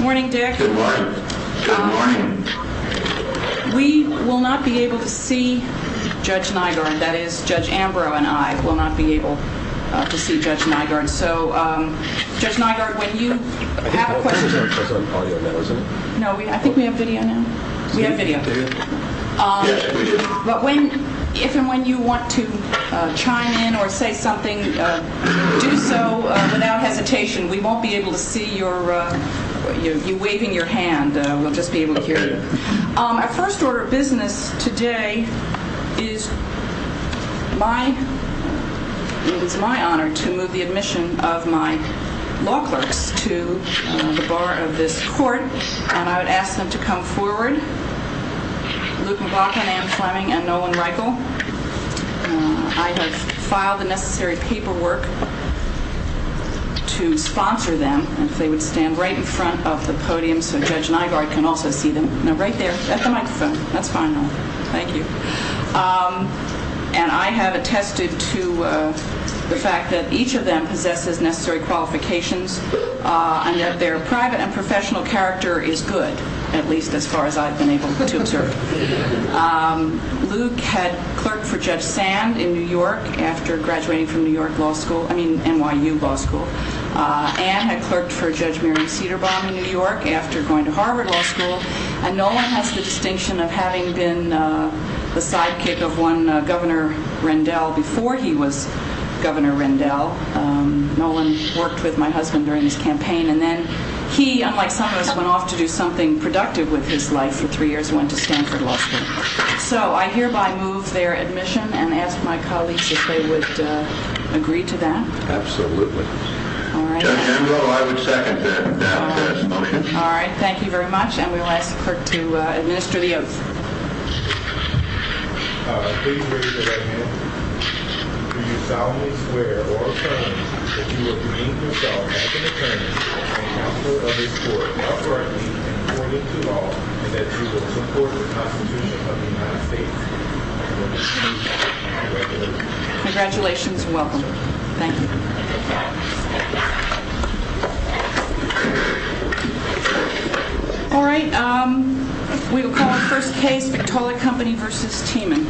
Morning Dick. Good morning. Good morning. We will not be able to see Judge Nygaard. That is, Judge Ambrose and I will not be able to see Judge Nygaard. So Judge Nygaard, when you have a question I think both of us are on audio now, isn't it? No, I think we have video now. We have video. But if and when you want to chime in or say something, do so without hesitation. We won't be able to see you waving your hand. We'll just be able to hear you. Our first order of business today is my honor to move the admission of my law clerks to the bar of this court. And I would ask them to come forward. Luke McLaughlin, Ann Fleming, and Nolan Reichel. I have filed the necessary paperwork to sponsor them. And if they would stand right in front of the podium so Judge Nygaard can also see them. No, right there at the microphone. That's fine, Nolan. Thank you. And I have attested to the fact that each of them possesses necessary qualifications and that their private and professional character is good, at least as far as I've been able to observe. Luke had clerked for Judge Sand in New York after graduating from NYU Law School. Ann had clerked for Judge Miriam Cederbaum in New York after going to Harvard Law School. And Nolan has the distinction of having been the sidekick of one Governor Rendell before he was Governor Rendell. Nolan worked with my husband during his campaign. And then he, unlike some of us, went off to do something productive with his life for three years and went to Stanford Law School. So I hereby move their admission and ask my colleagues if they would agree to that. Absolutely. All right. All right, thank you very much. And we will ask the clerk to administer the oath. Please raise your right hand. Do you solemnly swear or affirm that you will remain yourself as an attorney and counselor of this court, uprightly and according to law, and that you will support the Constitution of the United States, as it stands, one nation, under God, indivisible, with liberty and justice for all. Congratulations and welcome. Thank you. All right. We will call the first case, Victoria Company v. Tiemann.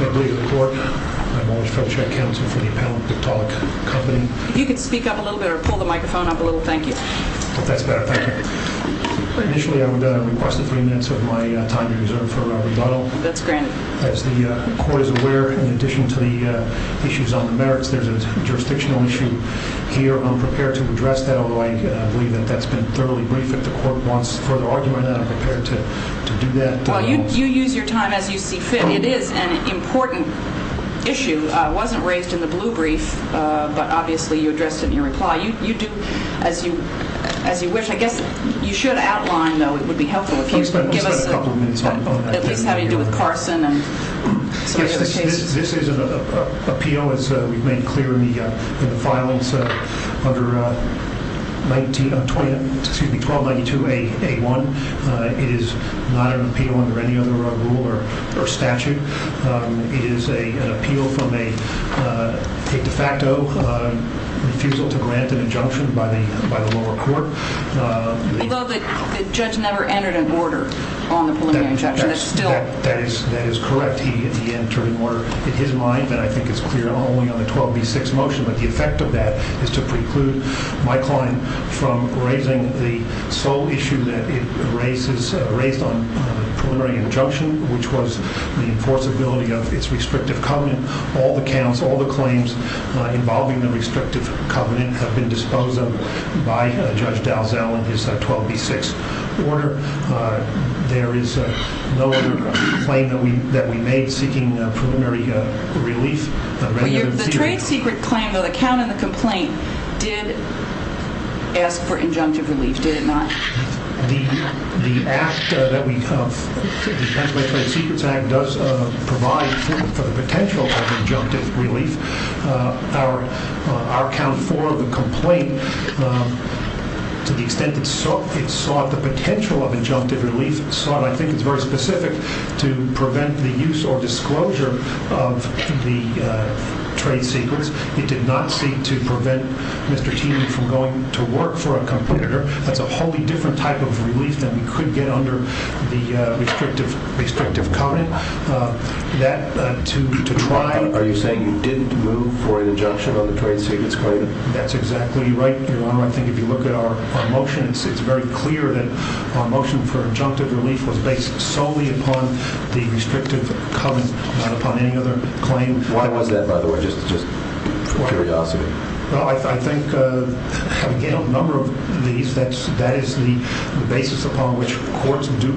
Thank you. If you could speak up a little bit or pull the microphone up a little, thank you. That's better, thank you. Initially, I would request a few minutes of my time to reserve for rebuttal. That's granted. As the court is aware, in addition to the issues on the merits, there's a jurisdictional issue here. I'm prepared to address that, although I believe that that's been thoroughly briefed. If the court wants further argument on that, I'm prepared to do that. Well, you use your time as you see fit. It is an important issue. It wasn't raised in the blue brief, but obviously you addressed it in your reply. You do, as you wish. I guess you should outline, though. It would be helpful if you could give us at least how you deal with Carson and some of the other cases. This is an appeal, as we've made clear in the files, under 1292A1. It is not an appeal under any other rule or statute. It is an appeal from a de facto refusal to grant an injunction by the lower court. Although the judge never entered a border on the preliminary injunction. That is correct. He entered a border in his mind, and I think it's clear not only on the 12B6 motion, but the effect of that is to preclude my client from raising the sole issue that it raised on the preliminary injunction, which was the enforceability of its restrictive covenant. All the counts, all the claims involving the restrictive covenant, have been disposed of by Judge Dalzell in his 12B6 order. There is no other claim that we made seeking preliminary relief. The trade secret claim, though, the count in the complaint, did ask for injunctive relief, did it not? The Act, the Pennsylvania Trade Secrets Act, does provide for the potential of injunctive relief. Our count 4 of the complaint, to the extent it sought the potential of injunctive relief, sought, I think it's very specific, to prevent the use or disclosure of the trade secrets. It did not seek to prevent Mr. Teemy from going to work for a competitor. That's a wholly different type of relief than we could get under the restrictive covenant. Are you saying you didn't move for an injunction on the trade secrets claim? That's exactly right, Your Honor. I think if you look at our motion, it's very clear that our motion for injunctive relief was based solely upon the restrictive covenant, not upon any other claim. Why was that, by the way? Just out of curiosity. Well, I think, again, on a number of these, that is the basis upon which courts do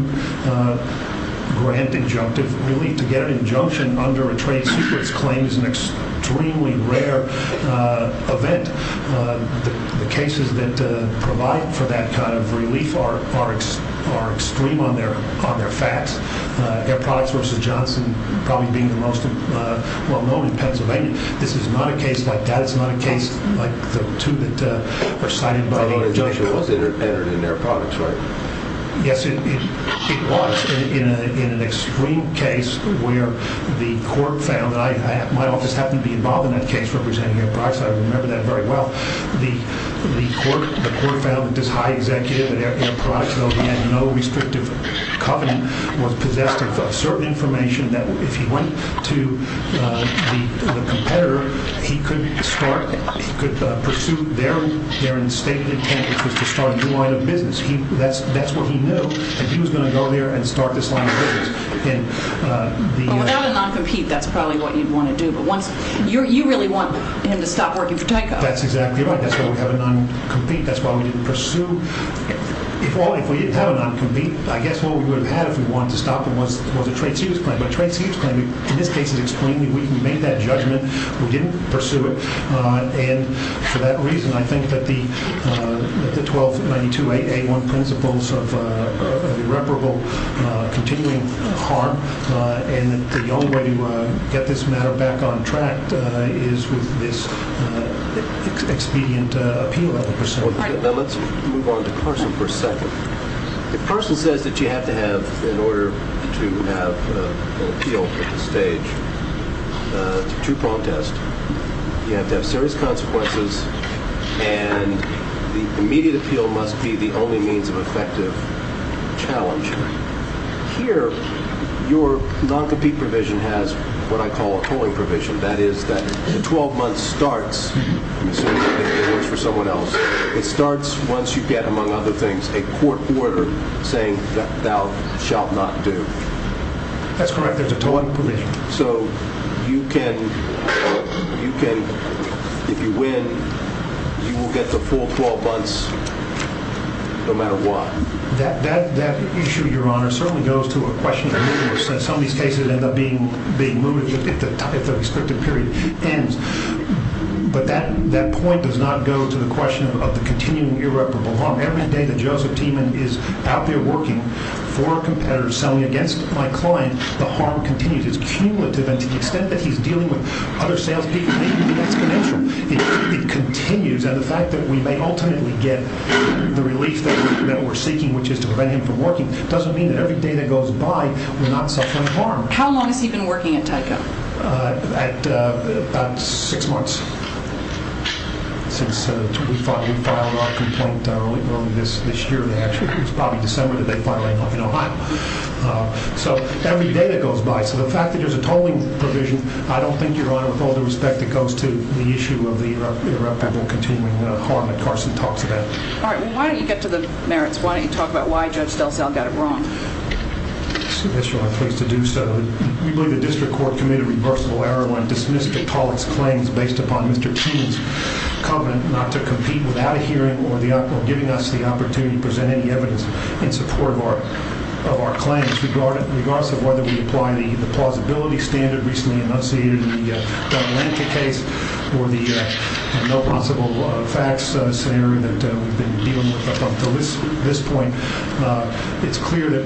grant injunctive relief. To get an injunction under a trade secrets claim is an extremely rare event. The cases that provide for that kind of relief are extreme on their facts. Air Products v. Johnson probably being the most well-known in Pennsylvania, this is not a case like that. It's not a case like the two that are cited by the injunctions. But an injunction was entered in Air Products, right? Yes, it was, in an extreme case where the court found, and my office happened to be involved in that case representing Air Products, so I remember that very well. The court found that this high executive at Air Products, though he had no restrictive covenant, was possessed of certain information that if he went to the competitor, he could pursue their instated intent, which was to start a new line of business. That's what he knew, that he was going to go there and start this line of business. But without a non-compete, that's probably what you'd want to do. You really want him to stop working for Tyco. That's exactly right. That's why we have a non-compete. That's why we didn't pursue. If we didn't have a non-compete, I guess what we would have had if we wanted to stop him was a trade secrets claim. But a trade secrets claim, in this case, is extremely weak. We made that judgment. We didn't pursue it. And for that reason, I think that the 1292A1 principles of irreparable continuing harm, and the only way to get this matter back on track is with this expedient appeal of the pursuit. Let's move on to Carson for a second. If Carson says that you have to have, in order to have an appeal at this stage to protest, you have to have serious consequences, and the immediate appeal must be the only means of effective challenge. Here, your non-compete provision has what I call a tolling provision. That is that the 12 months starts, assuming that it works for someone else, it starts once you get, among other things, a court order saying that thou shalt not do. That's correct. There's a tolling provision. So you can, if you win, you will get the full 12 months no matter what. That issue, Your Honor, certainly goes to a question that some of these cases end up being moved. If the restricted period ends. But that point does not go to the question of the continuing irreparable harm. Every day that Joseph Tiemann is out there working for a competitor, selling against my client, the harm continues. It's cumulative, and to the extent that he's dealing with other salespeople, maybe that's connected. It continues, and the fact that we may ultimately get the relief that we're seeking, which is to prevent him from working, doesn't mean that every day that goes by we're not suffering harm. How long has he been working at Tyco? About six months since we filed our complaint early this year. Actually, it was probably December that they filed it in Ohio. So every day that goes by. So the fact that there's a tolling provision, I don't think, Your Honor, with all the respect that goes to the issue of the irreparable continuing harm that Carson talks about. All right. Well, why don't you get to the merits? Why don't you talk about why Judge DelSalle got it wrong? Yes, Your Honor, I'm pleased to do so. We believe the district court committed reversible error when it dismissed the tolling's claims based upon Mr. Tiemann's covenant not to compete without a hearing or giving us the opportunity to present any evidence in support of our claims. Regardless of whether we apply the plausibility standard recently enunciated in the Darlenka case or the no possible facts scenario that we've been dealing with up until this point, it's clear that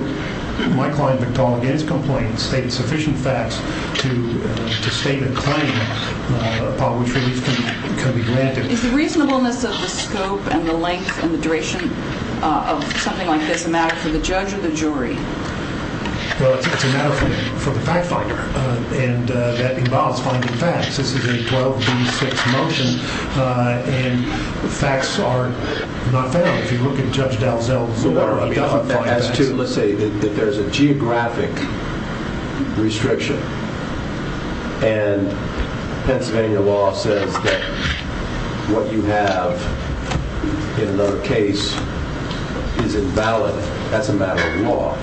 my client, McDonnell, in his complaint, stated sufficient facts to state a claim upon which relief can be granted. Is the reasonableness of the scope and the length and the duration of something like this a matter for the judge or the jury? Well, it's a matter for the fact finder, and that involves finding facts. This is a 12D6 motion, and the facts are not found. If you look at Judge DelSalle's order, he doesn't find facts. Let's say that there's a geographic restriction, and Pennsylvania law says that what you have in the case is invalid. That's a matter of law.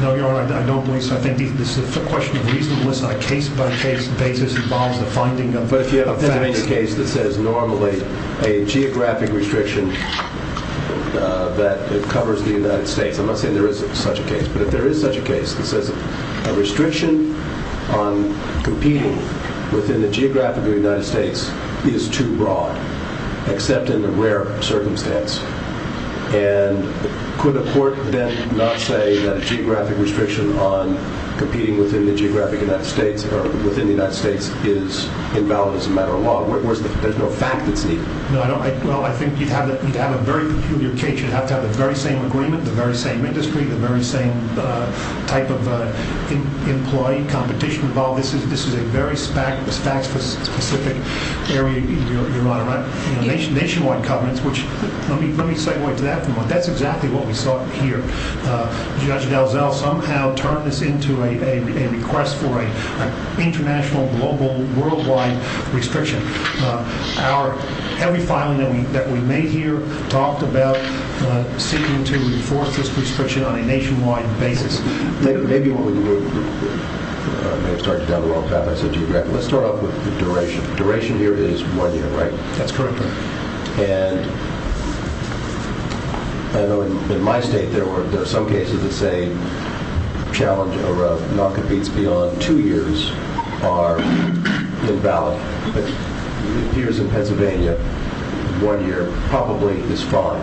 No, Your Honor, I don't believe so. I think this is a question of reasonableness on a case-by-case basis. It involves the finding of facts. But if you have a Pennsylvania case that says normally a geographic restriction that it covers the United States, I'm not saying there isn't such a case, but if there is such a case that says a restriction on competing within the geographic of the United States is too broad, except in a rare circumstance, and could a court then not say that a geographic restriction on competing within the geographic United States or within the United States is invalid as a matter of law? There's no fact that's needed. Well, I think you'd have a very peculiar case. You'd have to have the very same agreement, the very same industry, the very same type of employee competition involved. This is a very facts-specific area, Your Honor. Nationwide covenants, which let me segue to that. That's exactly what we saw here. Judge DelZell somehow turned this into a request for an international, global, worldwide restriction. Our heavy filing that we made here talked about seeking to enforce this restriction on a nationwide basis. Maybe we're starting down the wrong path, I said geographic. Let's start off with duration. That's correct, Your Honor. And I know in my state there were some cases that say challenge or non-competes beyond two years are invalid. But here's in Pennsylvania, one year probably is fine.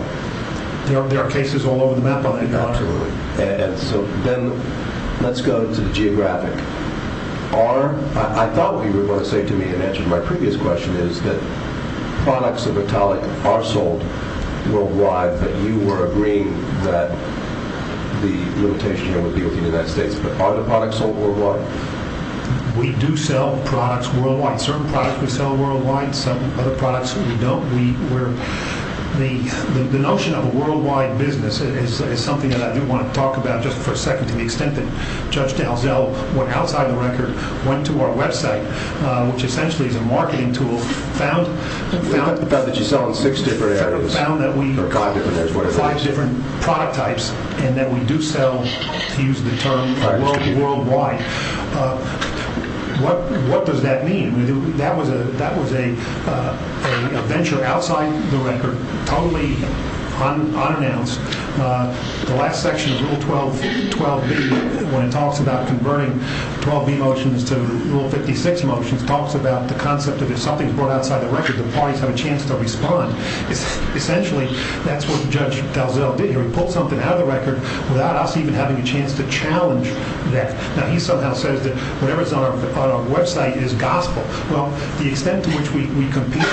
There are cases all over the map on that. Absolutely. And so then let's go to the geographic. I thought what you were going to say to me in answer to my previous question is that products of Italic are sold worldwide, that you were agreeing that the limitation here would be with the United States, but are the products sold worldwide? We do sell products worldwide. Certain products we sell worldwide, some other products we don't. The notion of a worldwide business is something that I do want to talk about just for a second to the extent that Judge DelZell went outside the record, went to our website, which essentially is a marketing tool, found that we have five different product types and that we do sell, to use the term, worldwide. What does that mean? That was a venture outside the record, totally unannounced. The last section of Rule 12B, when it talks about converting 12B motions to Rule 56 motions, talks about the concept that if something is brought outside the record, the parties have a chance to respond. Essentially, that's what Judge DelZell did here. He pulled something out of the record without us even having a chance to challenge that. Now, he somehow says that whatever is on our website is gospel. Well, the extent to which we compete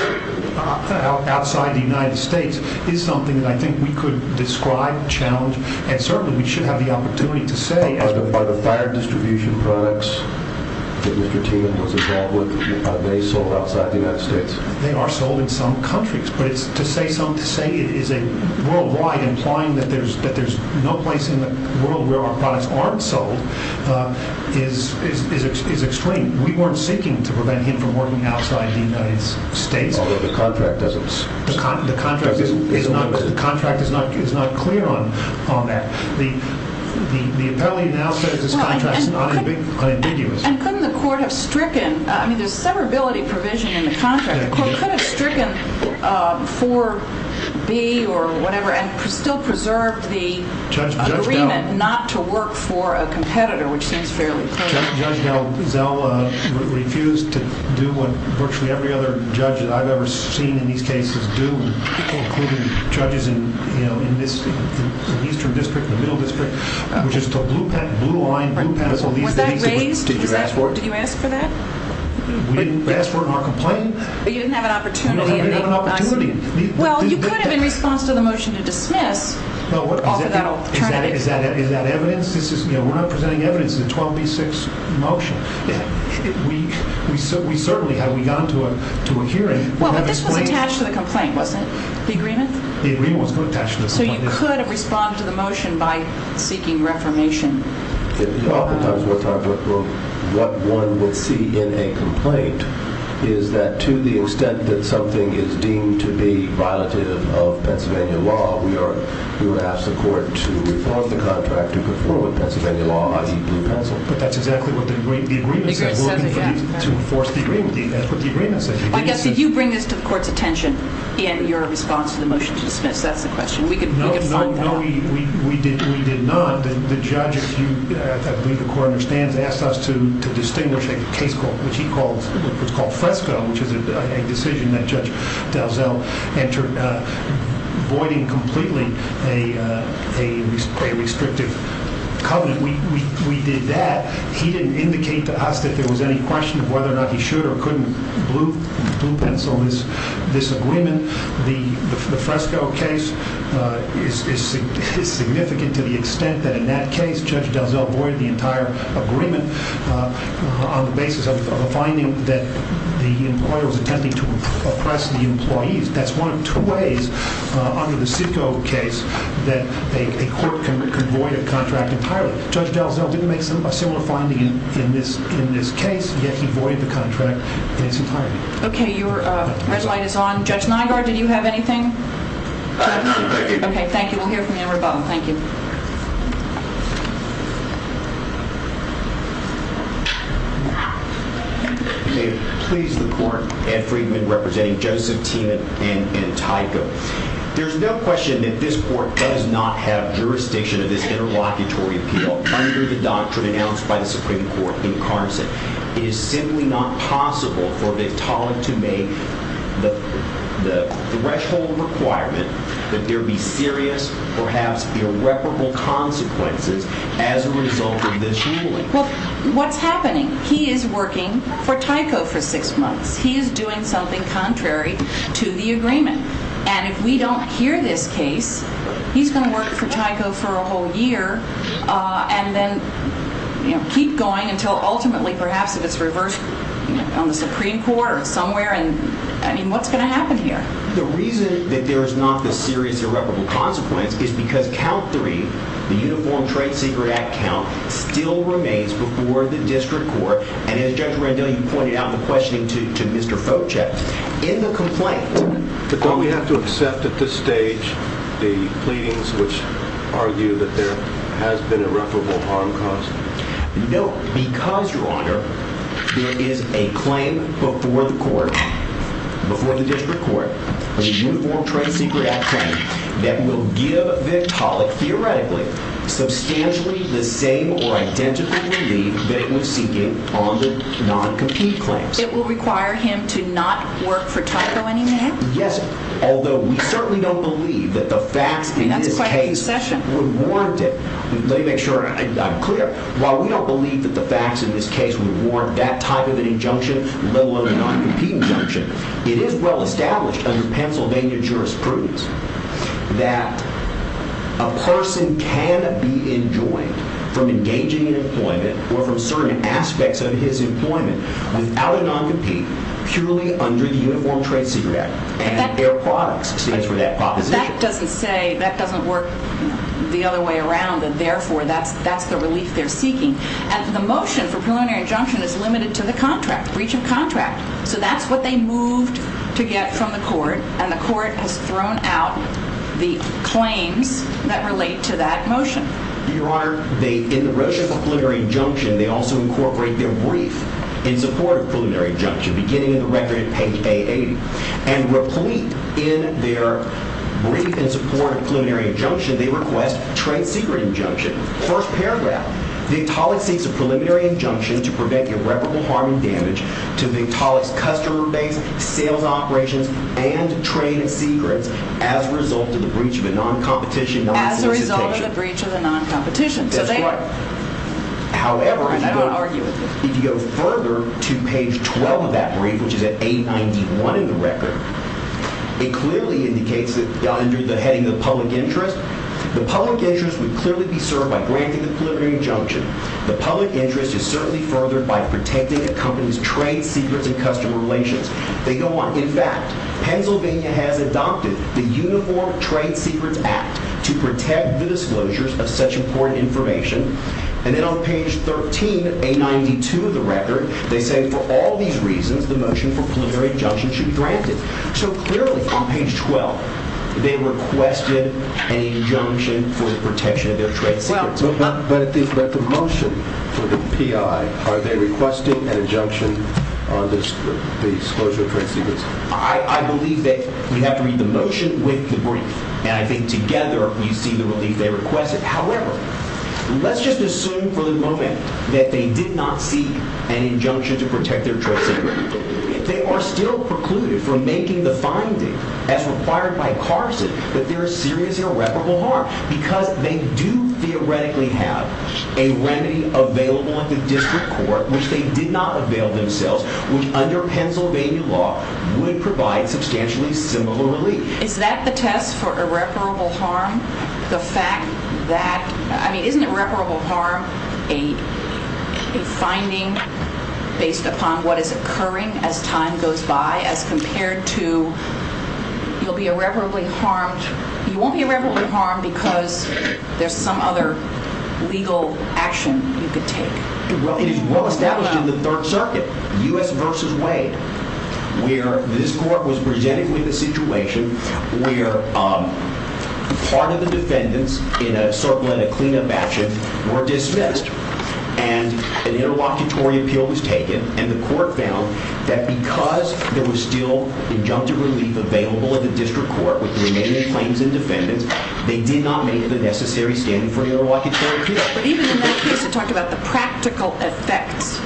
outside the United States is something that I think we could describe, challenge, and certainly we should have the opportunity to say. Are the fire distribution products that Mr. Tienen was involved with, are they sold outside the United States? They are sold in some countries. But to say it is worldwide, implying that there's no place in the world where our products aren't sold, is extreme. We weren't seeking to prevent him from working outside the United States. Although the contract doesn't say that. The contract is not clear on that. The appellee now says this contract is not ambiguous. And couldn't the court have stricken, I mean, there's severability provision in the contract. The court could have stricken 4B or whatever and still preserved the agreement not to work for a competitor, which seems fairly clear. Judge DelZell refused to do what virtually every other judge that I've ever seen in these cases do, including judges in the Eastern District, the Middle District, which is the blue line. Was that raised? Did you ask for it? Did you ask for that? We didn't ask for it in our complaint. But you didn't have an opportunity. We didn't have an opportunity. Well, you could have, in response to the motion to dismiss, offered that alternative. Is that evidence? We're not presenting evidence. It's a 12B6 motion. We certainly have gone to a hearing. Well, but this was attached to the complaint, wasn't it? The agreement? The agreement was attached to the complaint. So you could have responded to the motion by seeking reformation. Oftentimes what one would see in a complaint is that to the extent that something is deemed to be violative of Pennsylvania law, we would ask the court to reform the contract to conform with Pennsylvania law, i.e. blue pencil. But that's exactly what the agreement says. We're looking to enforce the agreement. That's what the agreement says. I guess if you bring this to the court's attention in your response to the motion to dismiss, that's the question. We could find that out. No, we did not. The judge, as I believe the court understands, asked us to distinguish a case which he calls Fresco, which is a decision that Judge DelZell entered, voiding completely a restrictive covenant. We did that. He didn't indicate to us that there was any question of whether or not he should or couldn't blue pencil this agreement. The Fresco case is significant to the extent that in that case Judge DelZell voided the entire agreement on the basis of a finding that the employer was attempting to oppress the employees. That's one of two ways under the Sitco case that a court can void a contract entirely. Judge DelZell didn't make a similar finding in this case, yet he voided the contract in its entirety. Okay, your red light is on. Judge Nygaard, did you have anything? No, thank you. Okay, thank you. We'll hear from you in rebuttal. Thank you. You may please the court. Ed Friedman representing Joseph T. and Tyco. There's no question that this court does not have jurisdiction of this interlocutory appeal under the doctrine announced by the Supreme Court in Carson. It is simply not possible for Victoria to make the threshold requirement that there be serious, perhaps irreparable consequences as a result of this ruling. Well, what's happening? He is working for Tyco for six months. He is doing something contrary to the agreement. And if we don't hear this case, he's going to work for Tyco for a whole year and then keep going until ultimately, perhaps, if it's reversed on the Supreme Court or somewhere. I mean, what's going to happen here? The reason that there is not the serious irreparable consequence is because count three, the Uniform Trade Secret Act count, still remains before the district court. And as Judge Randell, you pointed out in the questioning to Mr. Fochek, in the complaint... But don't we have to accept at this stage the pleadings which argue that there has been irreparable harm caused? No, because, Your Honor, there is a claim before the court, before the district court, of the Uniform Trade Secret Act claim that will give Vitalik, theoretically, substantially the same or identical relief that he was seeking on the non-compete claims. It will require him to not work for Tyco anymore? Yes, although we certainly don't believe that the facts in this case... I mean, that's quite a concession. ...would warrant it. Let me make sure I'm clear. While we don't believe that the facts in this case would warrant that type of an injunction, let alone a non-compete injunction, it is well established under Pennsylvania jurisprudence that a person can be enjoined from engaging in employment or from certain aspects of his employment without a non-compete, purely under the Uniform Trade Secret Act. And their products stand for that proposition. But that doesn't say... That doesn't work the other way around, and therefore that's the relief they're seeking. And the motion for preliminary injunction is limited to the contract, breach of contract. So that's what they moved to get from the court, and the court has thrown out the claims that relate to that motion. Your Honor, they... beginning of the record at page A80. And replete in their brief in support of preliminary injunction, they request trade secret injunction. First paragraph. As a result of the breach of the non-competition. That's right. However... I don't want to argue with you. If you go further to page 12 of that brief, which is at A91 in the record, it clearly indicates that under the heading of public interest, the public interest would clearly be served by granting the preliminary injunction. The public interest is certainly furthered by protecting a company's trade secrets and customer relations. They go on. In fact, Pennsylvania has adopted the Uniform Trade Secrets Act to protect the disclosures of such important information. And then on page 13, A92 of the record, they say for all these reasons, the motion for preliminary injunction should be granted. So clearly on page 12, they requested an injunction for the protection of their trade secrets. But the motion for the PI, are they requesting an injunction on the disclosure of trade secrets? I believe that we have to read the motion with the brief. And I think together we see the relief they requested. However, let's just assume for the moment that they did not seek an injunction to protect their trade secrets. They are still precluded from making the finding, as required by Carson, that there is serious irreparable harm because they do theoretically have a remedy available at the district court, which they did not avail themselves, which under Pennsylvania law would provide substantially similar relief. Is that the test for irreparable harm? The fact that, I mean, isn't irreparable harm a finding based upon what is occurring as time goes by as compared to you'll be irreparably harmed? You won't be irreparably harmed because there's some other legal action you could take. It is well established in the Third Circuit, U.S. v. Wade, where this court was presented with a situation where part of the defendants in a sort of clean-up action were dismissed and an interlocutory appeal was taken and the court found that because there was still injunctive relief available at the district court with the remaining claims and defendants, they did not make the necessary standing for an interlocutory appeal. But even in that case it talked about the practical effects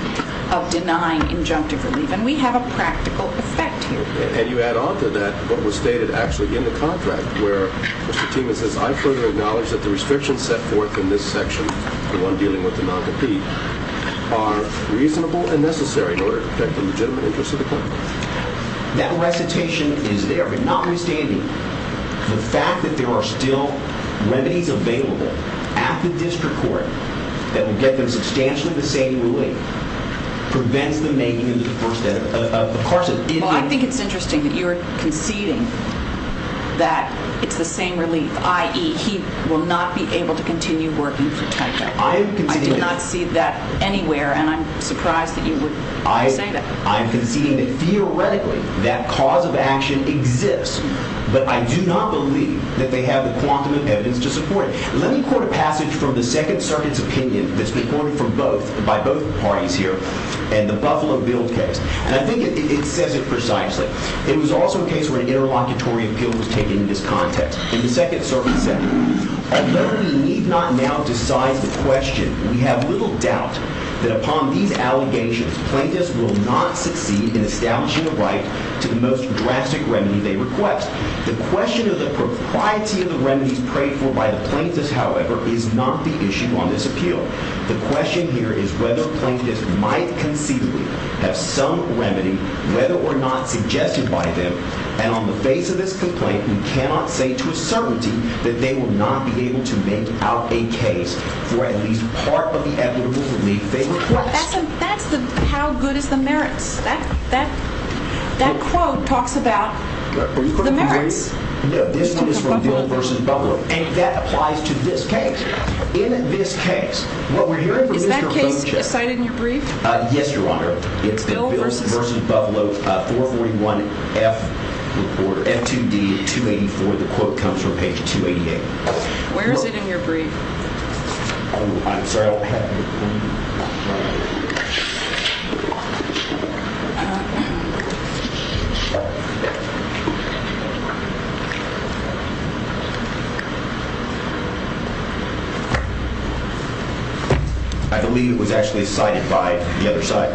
of denying injunctive relief, and we have a practical effect here. And you add on to that what was stated actually in the contract where Mr. Tima says, I further acknowledge that the restrictions set forth in this section, the one dealing with the non-compete, are reasonable and necessary in order to protect the legitimate interests of the client. That recitation is there, but notwithstanding the fact that there are still remedies available at the district court that will get them substantially the same relief prevents them making it into the first element. Well, I think it's interesting that you're conceding that it's the same relief, i.e. he will not be able to continue working for Tyco. I did not see that anywhere, and I'm surprised that you would say that. I'm conceding that theoretically that cause of action exists, but I do not believe that they have the quantum of evidence to support it. Let me quote a passage from the Second Circuit's opinion that's been quoted by both parties here in the Buffalo Bill case, and I think it says it precisely. It was also a case where an interlocutory appeal was taken into this context. In the Second Circuit said, a learner need not now decide the question. We have little doubt that upon these allegations, plaintiffs will not succeed in establishing a right to the most drastic remedy they request. The question of the propriety of the remedies prayed for by the plaintiffs, however, is not the issue on this appeal. The question here is whether plaintiffs might conceivably have some remedy, whether or not suggested by them, and on the face of this complaint, we cannot say to a certainty that they will not be able to make out a case for at least part of the equitable relief they request. That's the how good is the merits. That quote talks about the merits. No, this one is from Bill v. Buffalo, and that applies to this case. Is that case cited in your brief? Yes, Your Honor. It's the Bill v. Buffalo 441F2D284. The quote comes from page 288. Where is it in your brief? Oh, I'm sorry. I believe it was actually cited by the other side.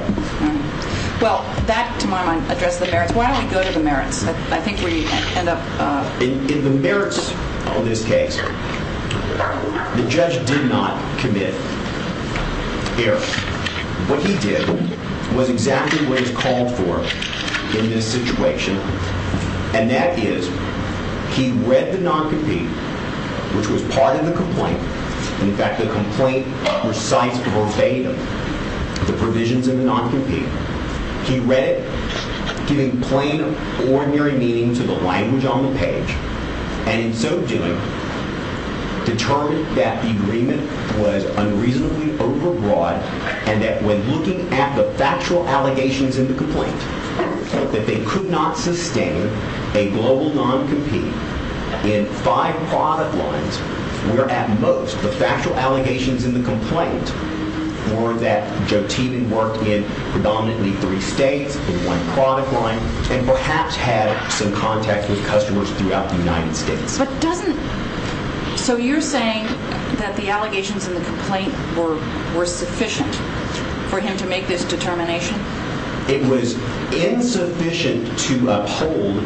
Well, that, to my mind, addressed the merits. Why don't we go to the merits? I think we end up... In the merits of this case, the judge did not commit. Here. What he did was exactly what is called for in this situation, and that is he read the non-compete, which was part of the complaint. In fact, the complaint recites verbatim the provisions in the non-compete. He read it, giving plain, ordinary meaning to the language on the page, and in so doing, determined that the agreement was unreasonably overbroad and that when looking at the factual allegations in the complaint, that they could not sustain a global non-compete in five product lines, where at most the factual allegations in the complaint were that Jotinin worked in predominantly three states, in one product line, and perhaps had some contact with customers throughout the United States. But doesn't... So you're saying that the allegations in the complaint were sufficient for him to make this determination? It was insufficient to uphold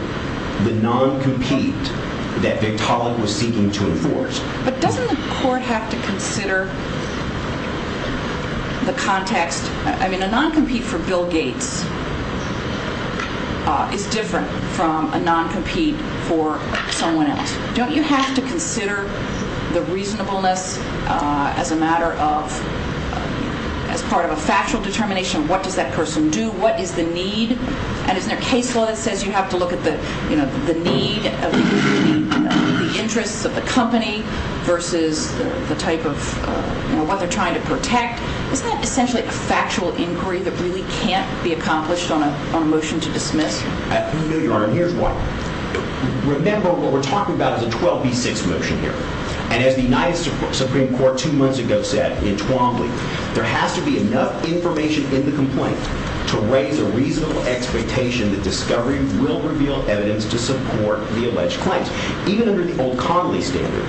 the non-compete that Victaulin was seeking to enforce. But doesn't the court have to consider the context? I mean, a non-compete for Bill Gates is different from a non-compete for someone else. Don't you have to consider the reasonableness as a matter of... as part of a factual determination? What does that person do? What is the need? And isn't there a case law that says you have to look at the need of the interests of the company versus the type of... what they're trying to protect? Isn't that essentially a factual inquiry that really can't be accomplished on a motion to dismiss? No, Your Honor, and here's why. Remember, what we're talking about is a 12B6 motion here. And as the United Supreme Court two months ago said in Twombly, there has to be enough information in the complaint to raise a reasonable expectation that discovery will reveal evidence to support the alleged claims. Even under the old Connolly standard,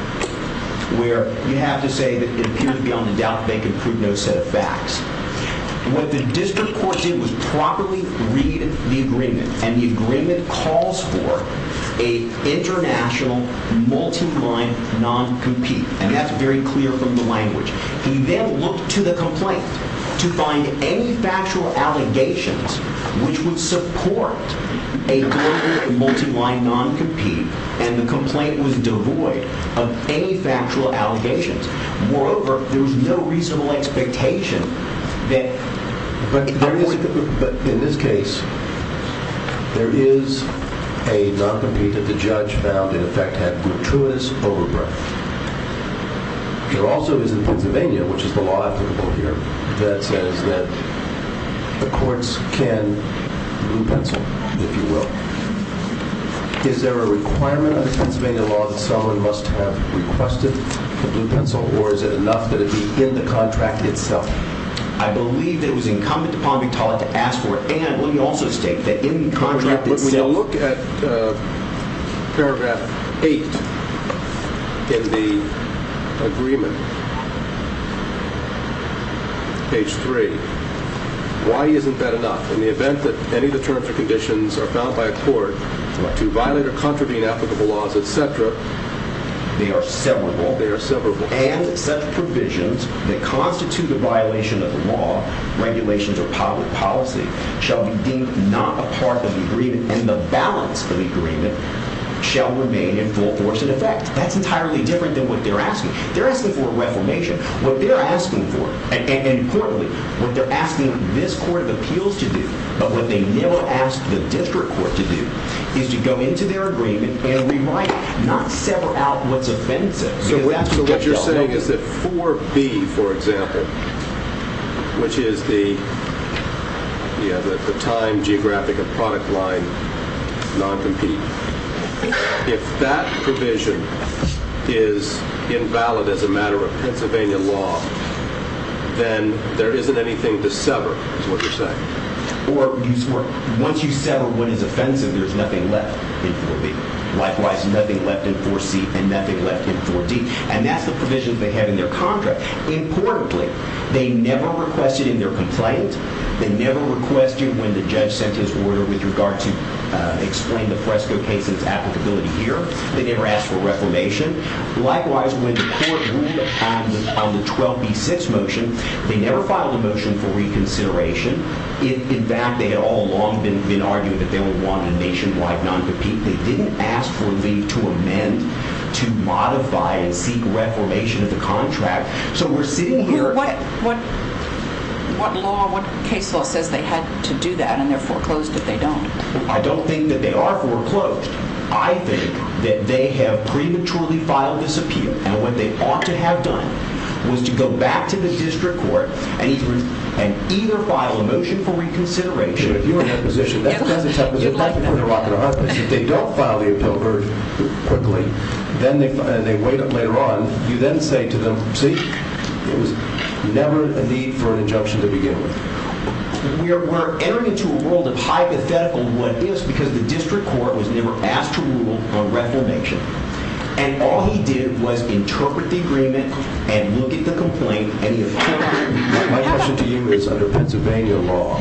where you have to say that it appears beyond a doubt that they can prove no set of facts, what the district court did was properly read the agreement, and the agreement calls for a international multi-line non-compete. And that's very clear from the language. You then look to the complaint to find any factual allegations which would support a global multi-line non-compete, and the complaint was devoid of any factual allegations. Moreover, there was no reasonable expectation that... But in this case, there is a non-compete that the judge found, in effect, had gratuitous overgrowth. There also is in Pennsylvania, which is the law applicable here, that says that the courts can blue-pencil, if you will. Is there a requirement under Pennsylvania law that someone must have requested a blue-pencil, or is it enough that it be in the contract itself? I believe it was incumbent upon me to ask for it, and let me also state that in the contract itself... Let me now look at paragraph 8 in the agreement. Page 3. Why isn't that enough? In the event that any deterrents or conditions are found by a court to violate or contravene applicable laws, etc. They are severable. They are severable. And such provisions that constitute a violation of the law, regulations, or public policy shall be deemed not a part of the agreement, and the balance of the agreement shall remain in full force in effect. That's entirely different than what they're asking. They're asking for reformation. What they're asking for, and importantly, what they're asking this Court of Appeals to do, but what they now ask the district court to do, is to go into their agreement and rewrite it, not sever out what's offensive. So what you're saying is that 4B, for example, which is the time, geographic, and product line, non-compete. If that provision is invalid as a matter of Pennsylvania law, then there isn't anything to sever, is what you're saying. Or once you sever what is offensive, there's nothing left in 4B. Likewise, nothing left in 4C, and nothing left in 4D. And that's the provisions they have in their contract. Importantly, they never requested in their complaint, they never requested when the judge sent his order with regard to explain the Fresco case's applicability here. They never asked for reformation. Likewise, when the court ruled on the 12B6 motion, they never filed a motion for reconsideration. In fact, they had all along been arguing that they would want a nationwide non-compete. They didn't ask for leave to amend, to modify, and seek reformation of the contract. So we're sitting here... What case law says they had to do that, and they're foreclosed if they don't. I don't think that they are foreclosed. I think that they have prematurely filed this appeal, and what they ought to have done was to go back to the district court and either file a motion for reconsideration... If you were in that position, that's a tough one. You'd like to put a rock in their eyes. If they don't file the appeal very quickly, and they wait up later on, you then say to them, see, there was never a need for an injunction to begin with. We're entering into a world of hypothetical what-ifs because the district court was never asked to rule on reformation. And all he did was interpret the agreement and look at the complaint, and he effectively... My question to you is, under Pennsylvania law,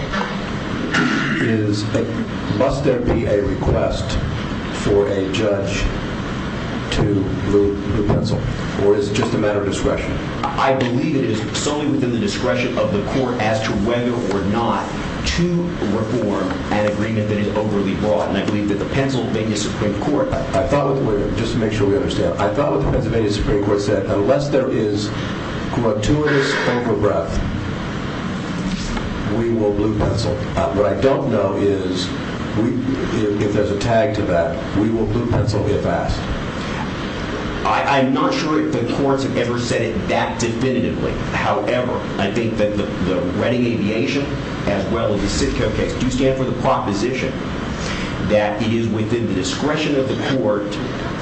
must there be a request for a judge to rule the pencil, or is it just a matter of discretion? I believe it is solely within the discretion of the court as to whether or not to reform an agreement that is overly broad, and I believe that the Pennsylvania Supreme Court... I thought, just to make sure we understand, I thought the Pennsylvania Supreme Court said unless there is gratuitous over-breath, we will blue-pencil. What I don't know is if there's a tag to that, we will blue-pencil if asked. I'm not sure if the courts have ever said it that definitively. However, I think that the Redding Aviation, as well as the Sitco case, do stand for the proposition that it is within the discretion of the court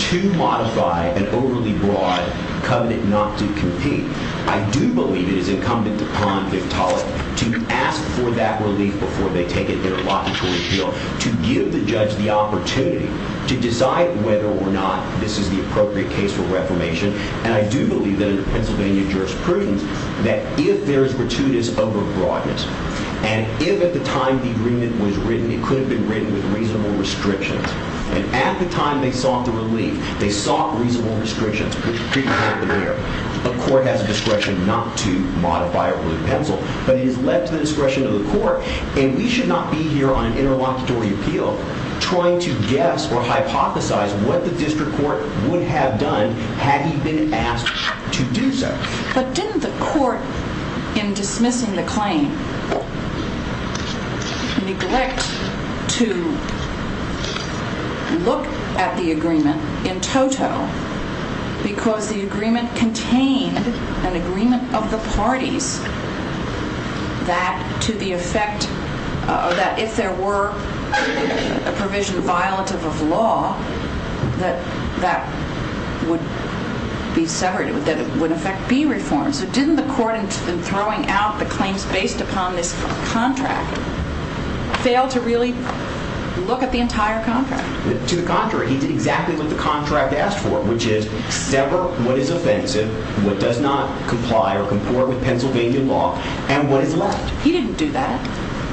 to modify an overly broad covenant not to compete. I do believe it is incumbent upon Victaulic to ask for that relief before they take an interlocutory appeal, to give the judge the opportunity to decide whether or not this is the appropriate case for reformation, and I do believe that in the Pennsylvania jurisprudence that if there is gratuitous over-broadness, and if at the time the agreement was written, it could have been written with reasonable restrictions, and at the time they sought the relief, they sought reasonable restrictions, which pretty clearly there. A court has a discretion not to modify or blue-pencil, but it is led to the discretion of the court, and we should not be here on an interlocutory appeal trying to guess or hypothesize what the district court would have done had he been asked to do so. But didn't the court, in dismissing the claim, neglect to look at the agreement in toto because the agreement contained an agreement of the parties that to the effect that if there were a provision that would be violative of law, that that would be severed, that it would affect B reform. So didn't the court, in throwing out the claims based upon this contract, fail to really look at the entire contract? To the contrary. He did exactly what the contract asked for, which is sever what is offensive, what does not comply or comport with Pennsylvania law, and what is left. He didn't do that.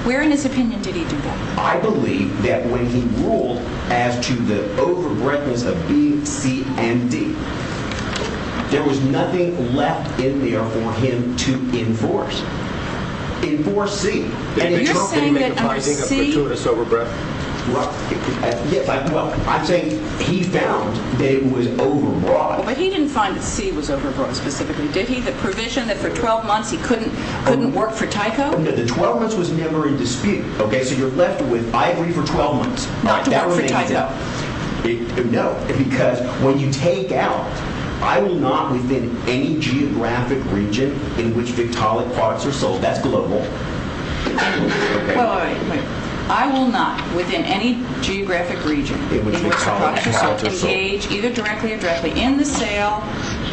Where in his opinion did he do that? I believe that when he ruled as to the overbreadthness of B, C, and D, there was nothing left in there for him to enforce. Enforce C. You're saying that under C... I'm saying he found that it was overbroad. But he didn't find that C was overbroad, specifically. Did he? The provision that for 12 months he couldn't work for Tyco? No, the 12 months was never in dispute. So you're left with, I agree, for 12 months. Not to work for Tyco. No, because when you take out, I will not, within any geographic region in which Victaulic products are sold, that's global, I will not, within any geographic region in which Victaulic products are sold, engage either directly or indirectly in the sale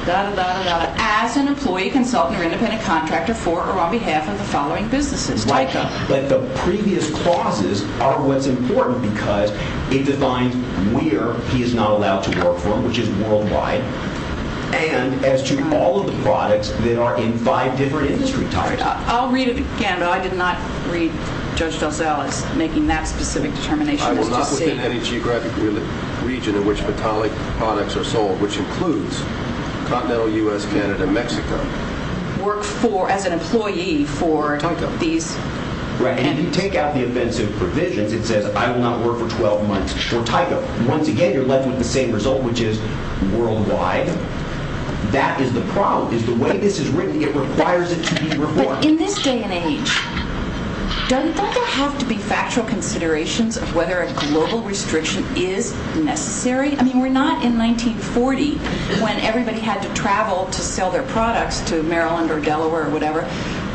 as an employee, consultant, or independent contractor for or on behalf of the following businesses, Tyco. But the previous clauses are what's important because it defines where he is not allowed to work for them, which is worldwide, and as to all of the products that are in five different industry types. I'll read it again, but I did not read Judge DelZell as making that specific determination. I will not, within any geographic region in which Victaulic products are sold, which includes continental U.S., Canada, Mexico, work for, as an employee for these... Right, and if you take out the offensive provisions, it says I will not work for 12 months for Tyco. Once again, you're left with the same result, which is worldwide. That is the problem, is the way this is written, it requires it to be reformed. But in this day and age, don't there have to be factual considerations of whether a global restriction is necessary? I mean, we're not in 1940 when everybody had to travel to sell their products to Maryland or Delaware or whatever.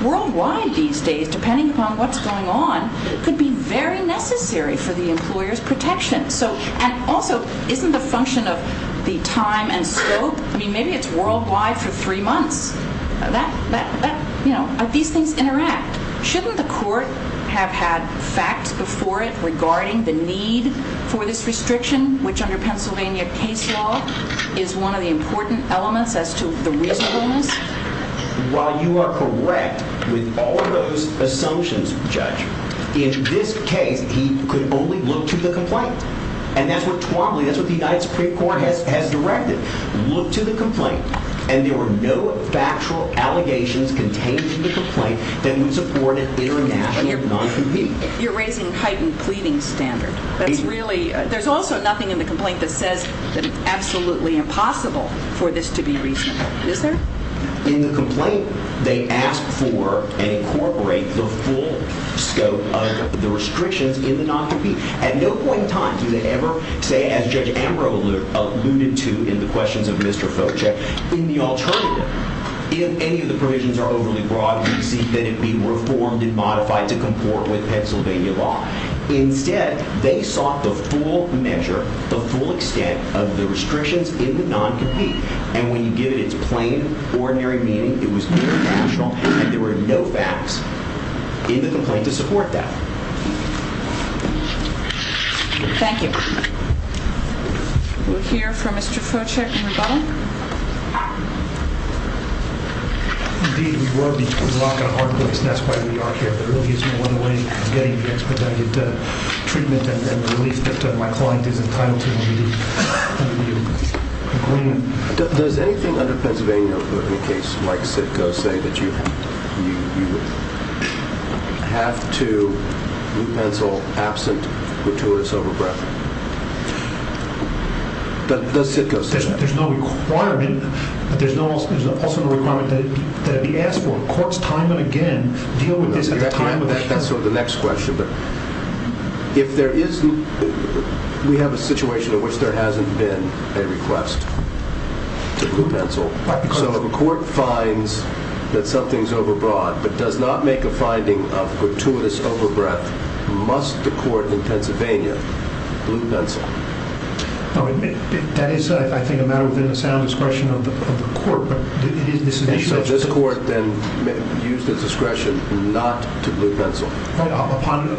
Worldwide these days, depending upon what's going on, could be very necessary for the employer's protection. And also, isn't the function of the time and scope... I mean, maybe it's worldwide for three months. These things interact. Shouldn't the court have had facts before it regarding the need for this restriction, which under Pennsylvania case law is one of the important elements as to the reasonableness? Well, you are correct with all of those assumptions, Judge. In this case, he could only look to the complaint. And that's what Twombly, that's what the United Supreme Court has directed. Look to the complaint, and there were no factual allegations contained in the complaint that would support an international non-compete. That's really... There's also nothing in the complaint that says that it's absolutely impossible for this to be reasonable. Is there? In the complaint, they ask for and incorporate the full scope of the restrictions in the non-compete. At no point in time do they ever say, as Judge Ambrose alluded to in the questions of Mr. Fochek, in the alternative, if any of the provisions are overly broad, we seek that it be reformed and modified to comport with Pennsylvania law. Instead, they sought the full measure, the full extent of the restrictions in the non-compete. And when you give it its plain, ordinary meaning, it was international, and there were no facts in the complaint to support that. Thank you. We'll hear from Mr. Fochek in rebuttal. Indeed, we were locked in a hard place, and that's why we are here. There really isn't one way of getting the expedited treatment and relief that my client is entitled to. Does anything under Pennsylvania, in any case, like Sitko, say that you have to, root pencil, absent, gratuitous overbreadth? Does Sitko say that? There's no requirement. There's also no requirement that it be asked for. Courts, time and again, deal with this at the time of the case. That's sort of the next question. If there isn't, we have a situation in which there hasn't been a request to root pencil. So if a court finds that something's overbroad, but does not make a finding of gratuitous overbreadth, must the court in Pennsylvania root pencil? That is, I think, a matter within the sound discretion of the court. So this court then used its discretion not to root pencil. Upon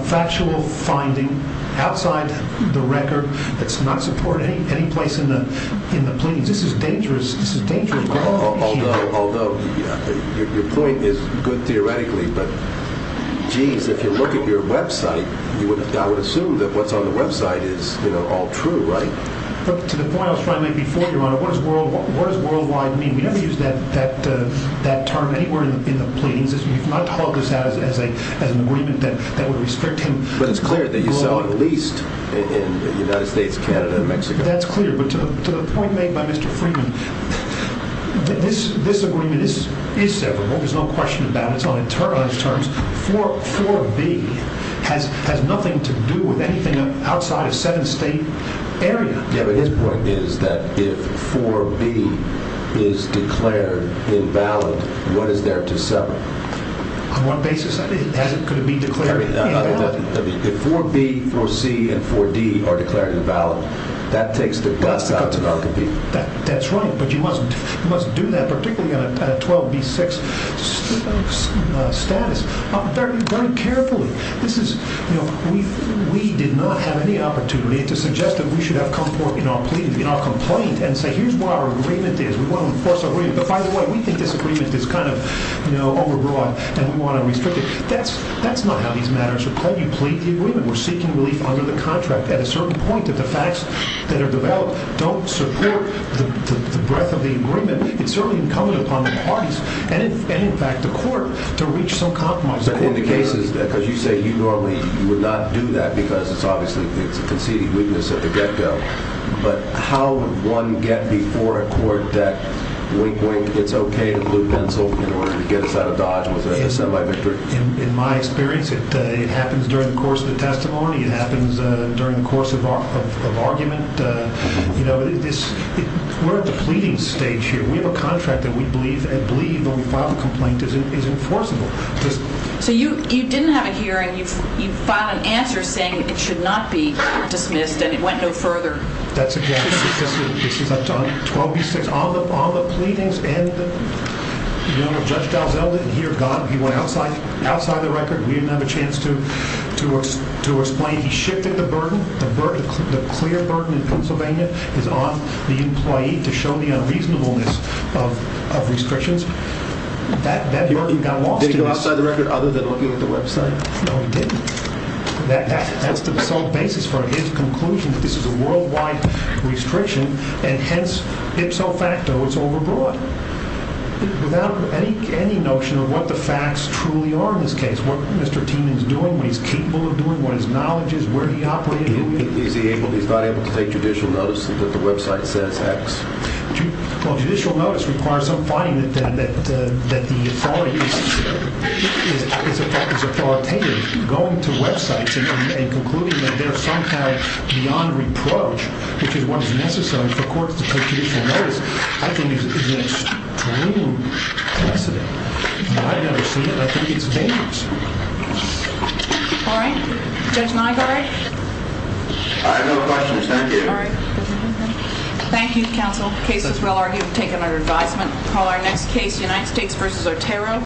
a factual finding outside the record that's not supported any place in the pleadings. This is dangerous. This is dangerous. Although your point is good theoretically, but geez, if you look at your website, I would assume that what's on the website is all true, right? To the point I was trying to make before, Your Honor, what does worldwide mean? We don't use that term anywhere in the pleadings. We've not called this out as an agreement that would restrict him. But it's clear that you saw it at least in the United States, Canada, and Mexico. That's clear. But to the point made by Mr. Freeman, this agreement is severable. There's no question about it. It's on internalized terms. 4B has nothing to do with anything outside a seven-state area. Yeah, but his point is that if 4B is declared invalid, what is there to sever? On what basis? Could it be declared invalid? If 4B, 4C, and 4D are declared invalid, that takes the cuts out to non-competing. That's right. But you must do that, particularly on a 12B6 status. Third, you're going carefully. This is, you know, we did not have any opportunity to suggest that we should have come forth in our pleadings, in our complaint, and say here's what our agreement is. We want to enforce our agreement. But, by the way, we think this agreement is kind of, you know, overbroad and we want to restrict it. That's not how these matters are played. You plead the agreement. We're seeking relief under the contract at a certain point that the facts that are developed don't support the breadth of the agreement. It's certainly incumbent upon the parties and, in fact, the court to reach some compromise. But in the cases, because you say you normally would not do that because it's obviously a conceded weakness at the get-go, but how would one get before a court that, wink, wink, it's okay to blue pencil in order to get us out of Dodge with a semi-victory? In my experience, it happens during the course of the testimony. It happens during the course of argument. You know, we're at the pleading stage here. We have a contract that we believe, when we file a complaint, is enforceable. So you didn't have a hearing. You filed an answer saying it should not be dismissed and it went no further. That's exactly right. This is up to 12B6. All the pleadings and Judge Dalziel didn't hear God. He went outside the record. We didn't have a chance to explain. He shifted the burden. The clear burden in Pennsylvania is on the employee to show the unreasonableness of restrictions. That burden got lost in this. Did he go outside the record other than looking at the website? No, he didn't. That's the sole basis for his conclusion that this is a worldwide restriction and hence, ipso facto, it's overbroad. Without any notion of what the facts truly are in this case, what Mr. Tienan is doing, what he's capable of doing, what his knowledge is, where he operated. He's not able to take judicial notice that the website says X. Well, judicial notice requires some finding that the authority is authoritative. Going to websites and concluding that there's some kind of beyond reproach, which is what is necessary for courts to take judicial notice, I think is an extreme precedent. I've never seen it. I think it's dangerous. All right. Judge Nygaard? I have no questions. Thank you. All right. Thank you, counsel. The case is well argued. We've taken our advisement. We'll call our next case, United States v. Otero.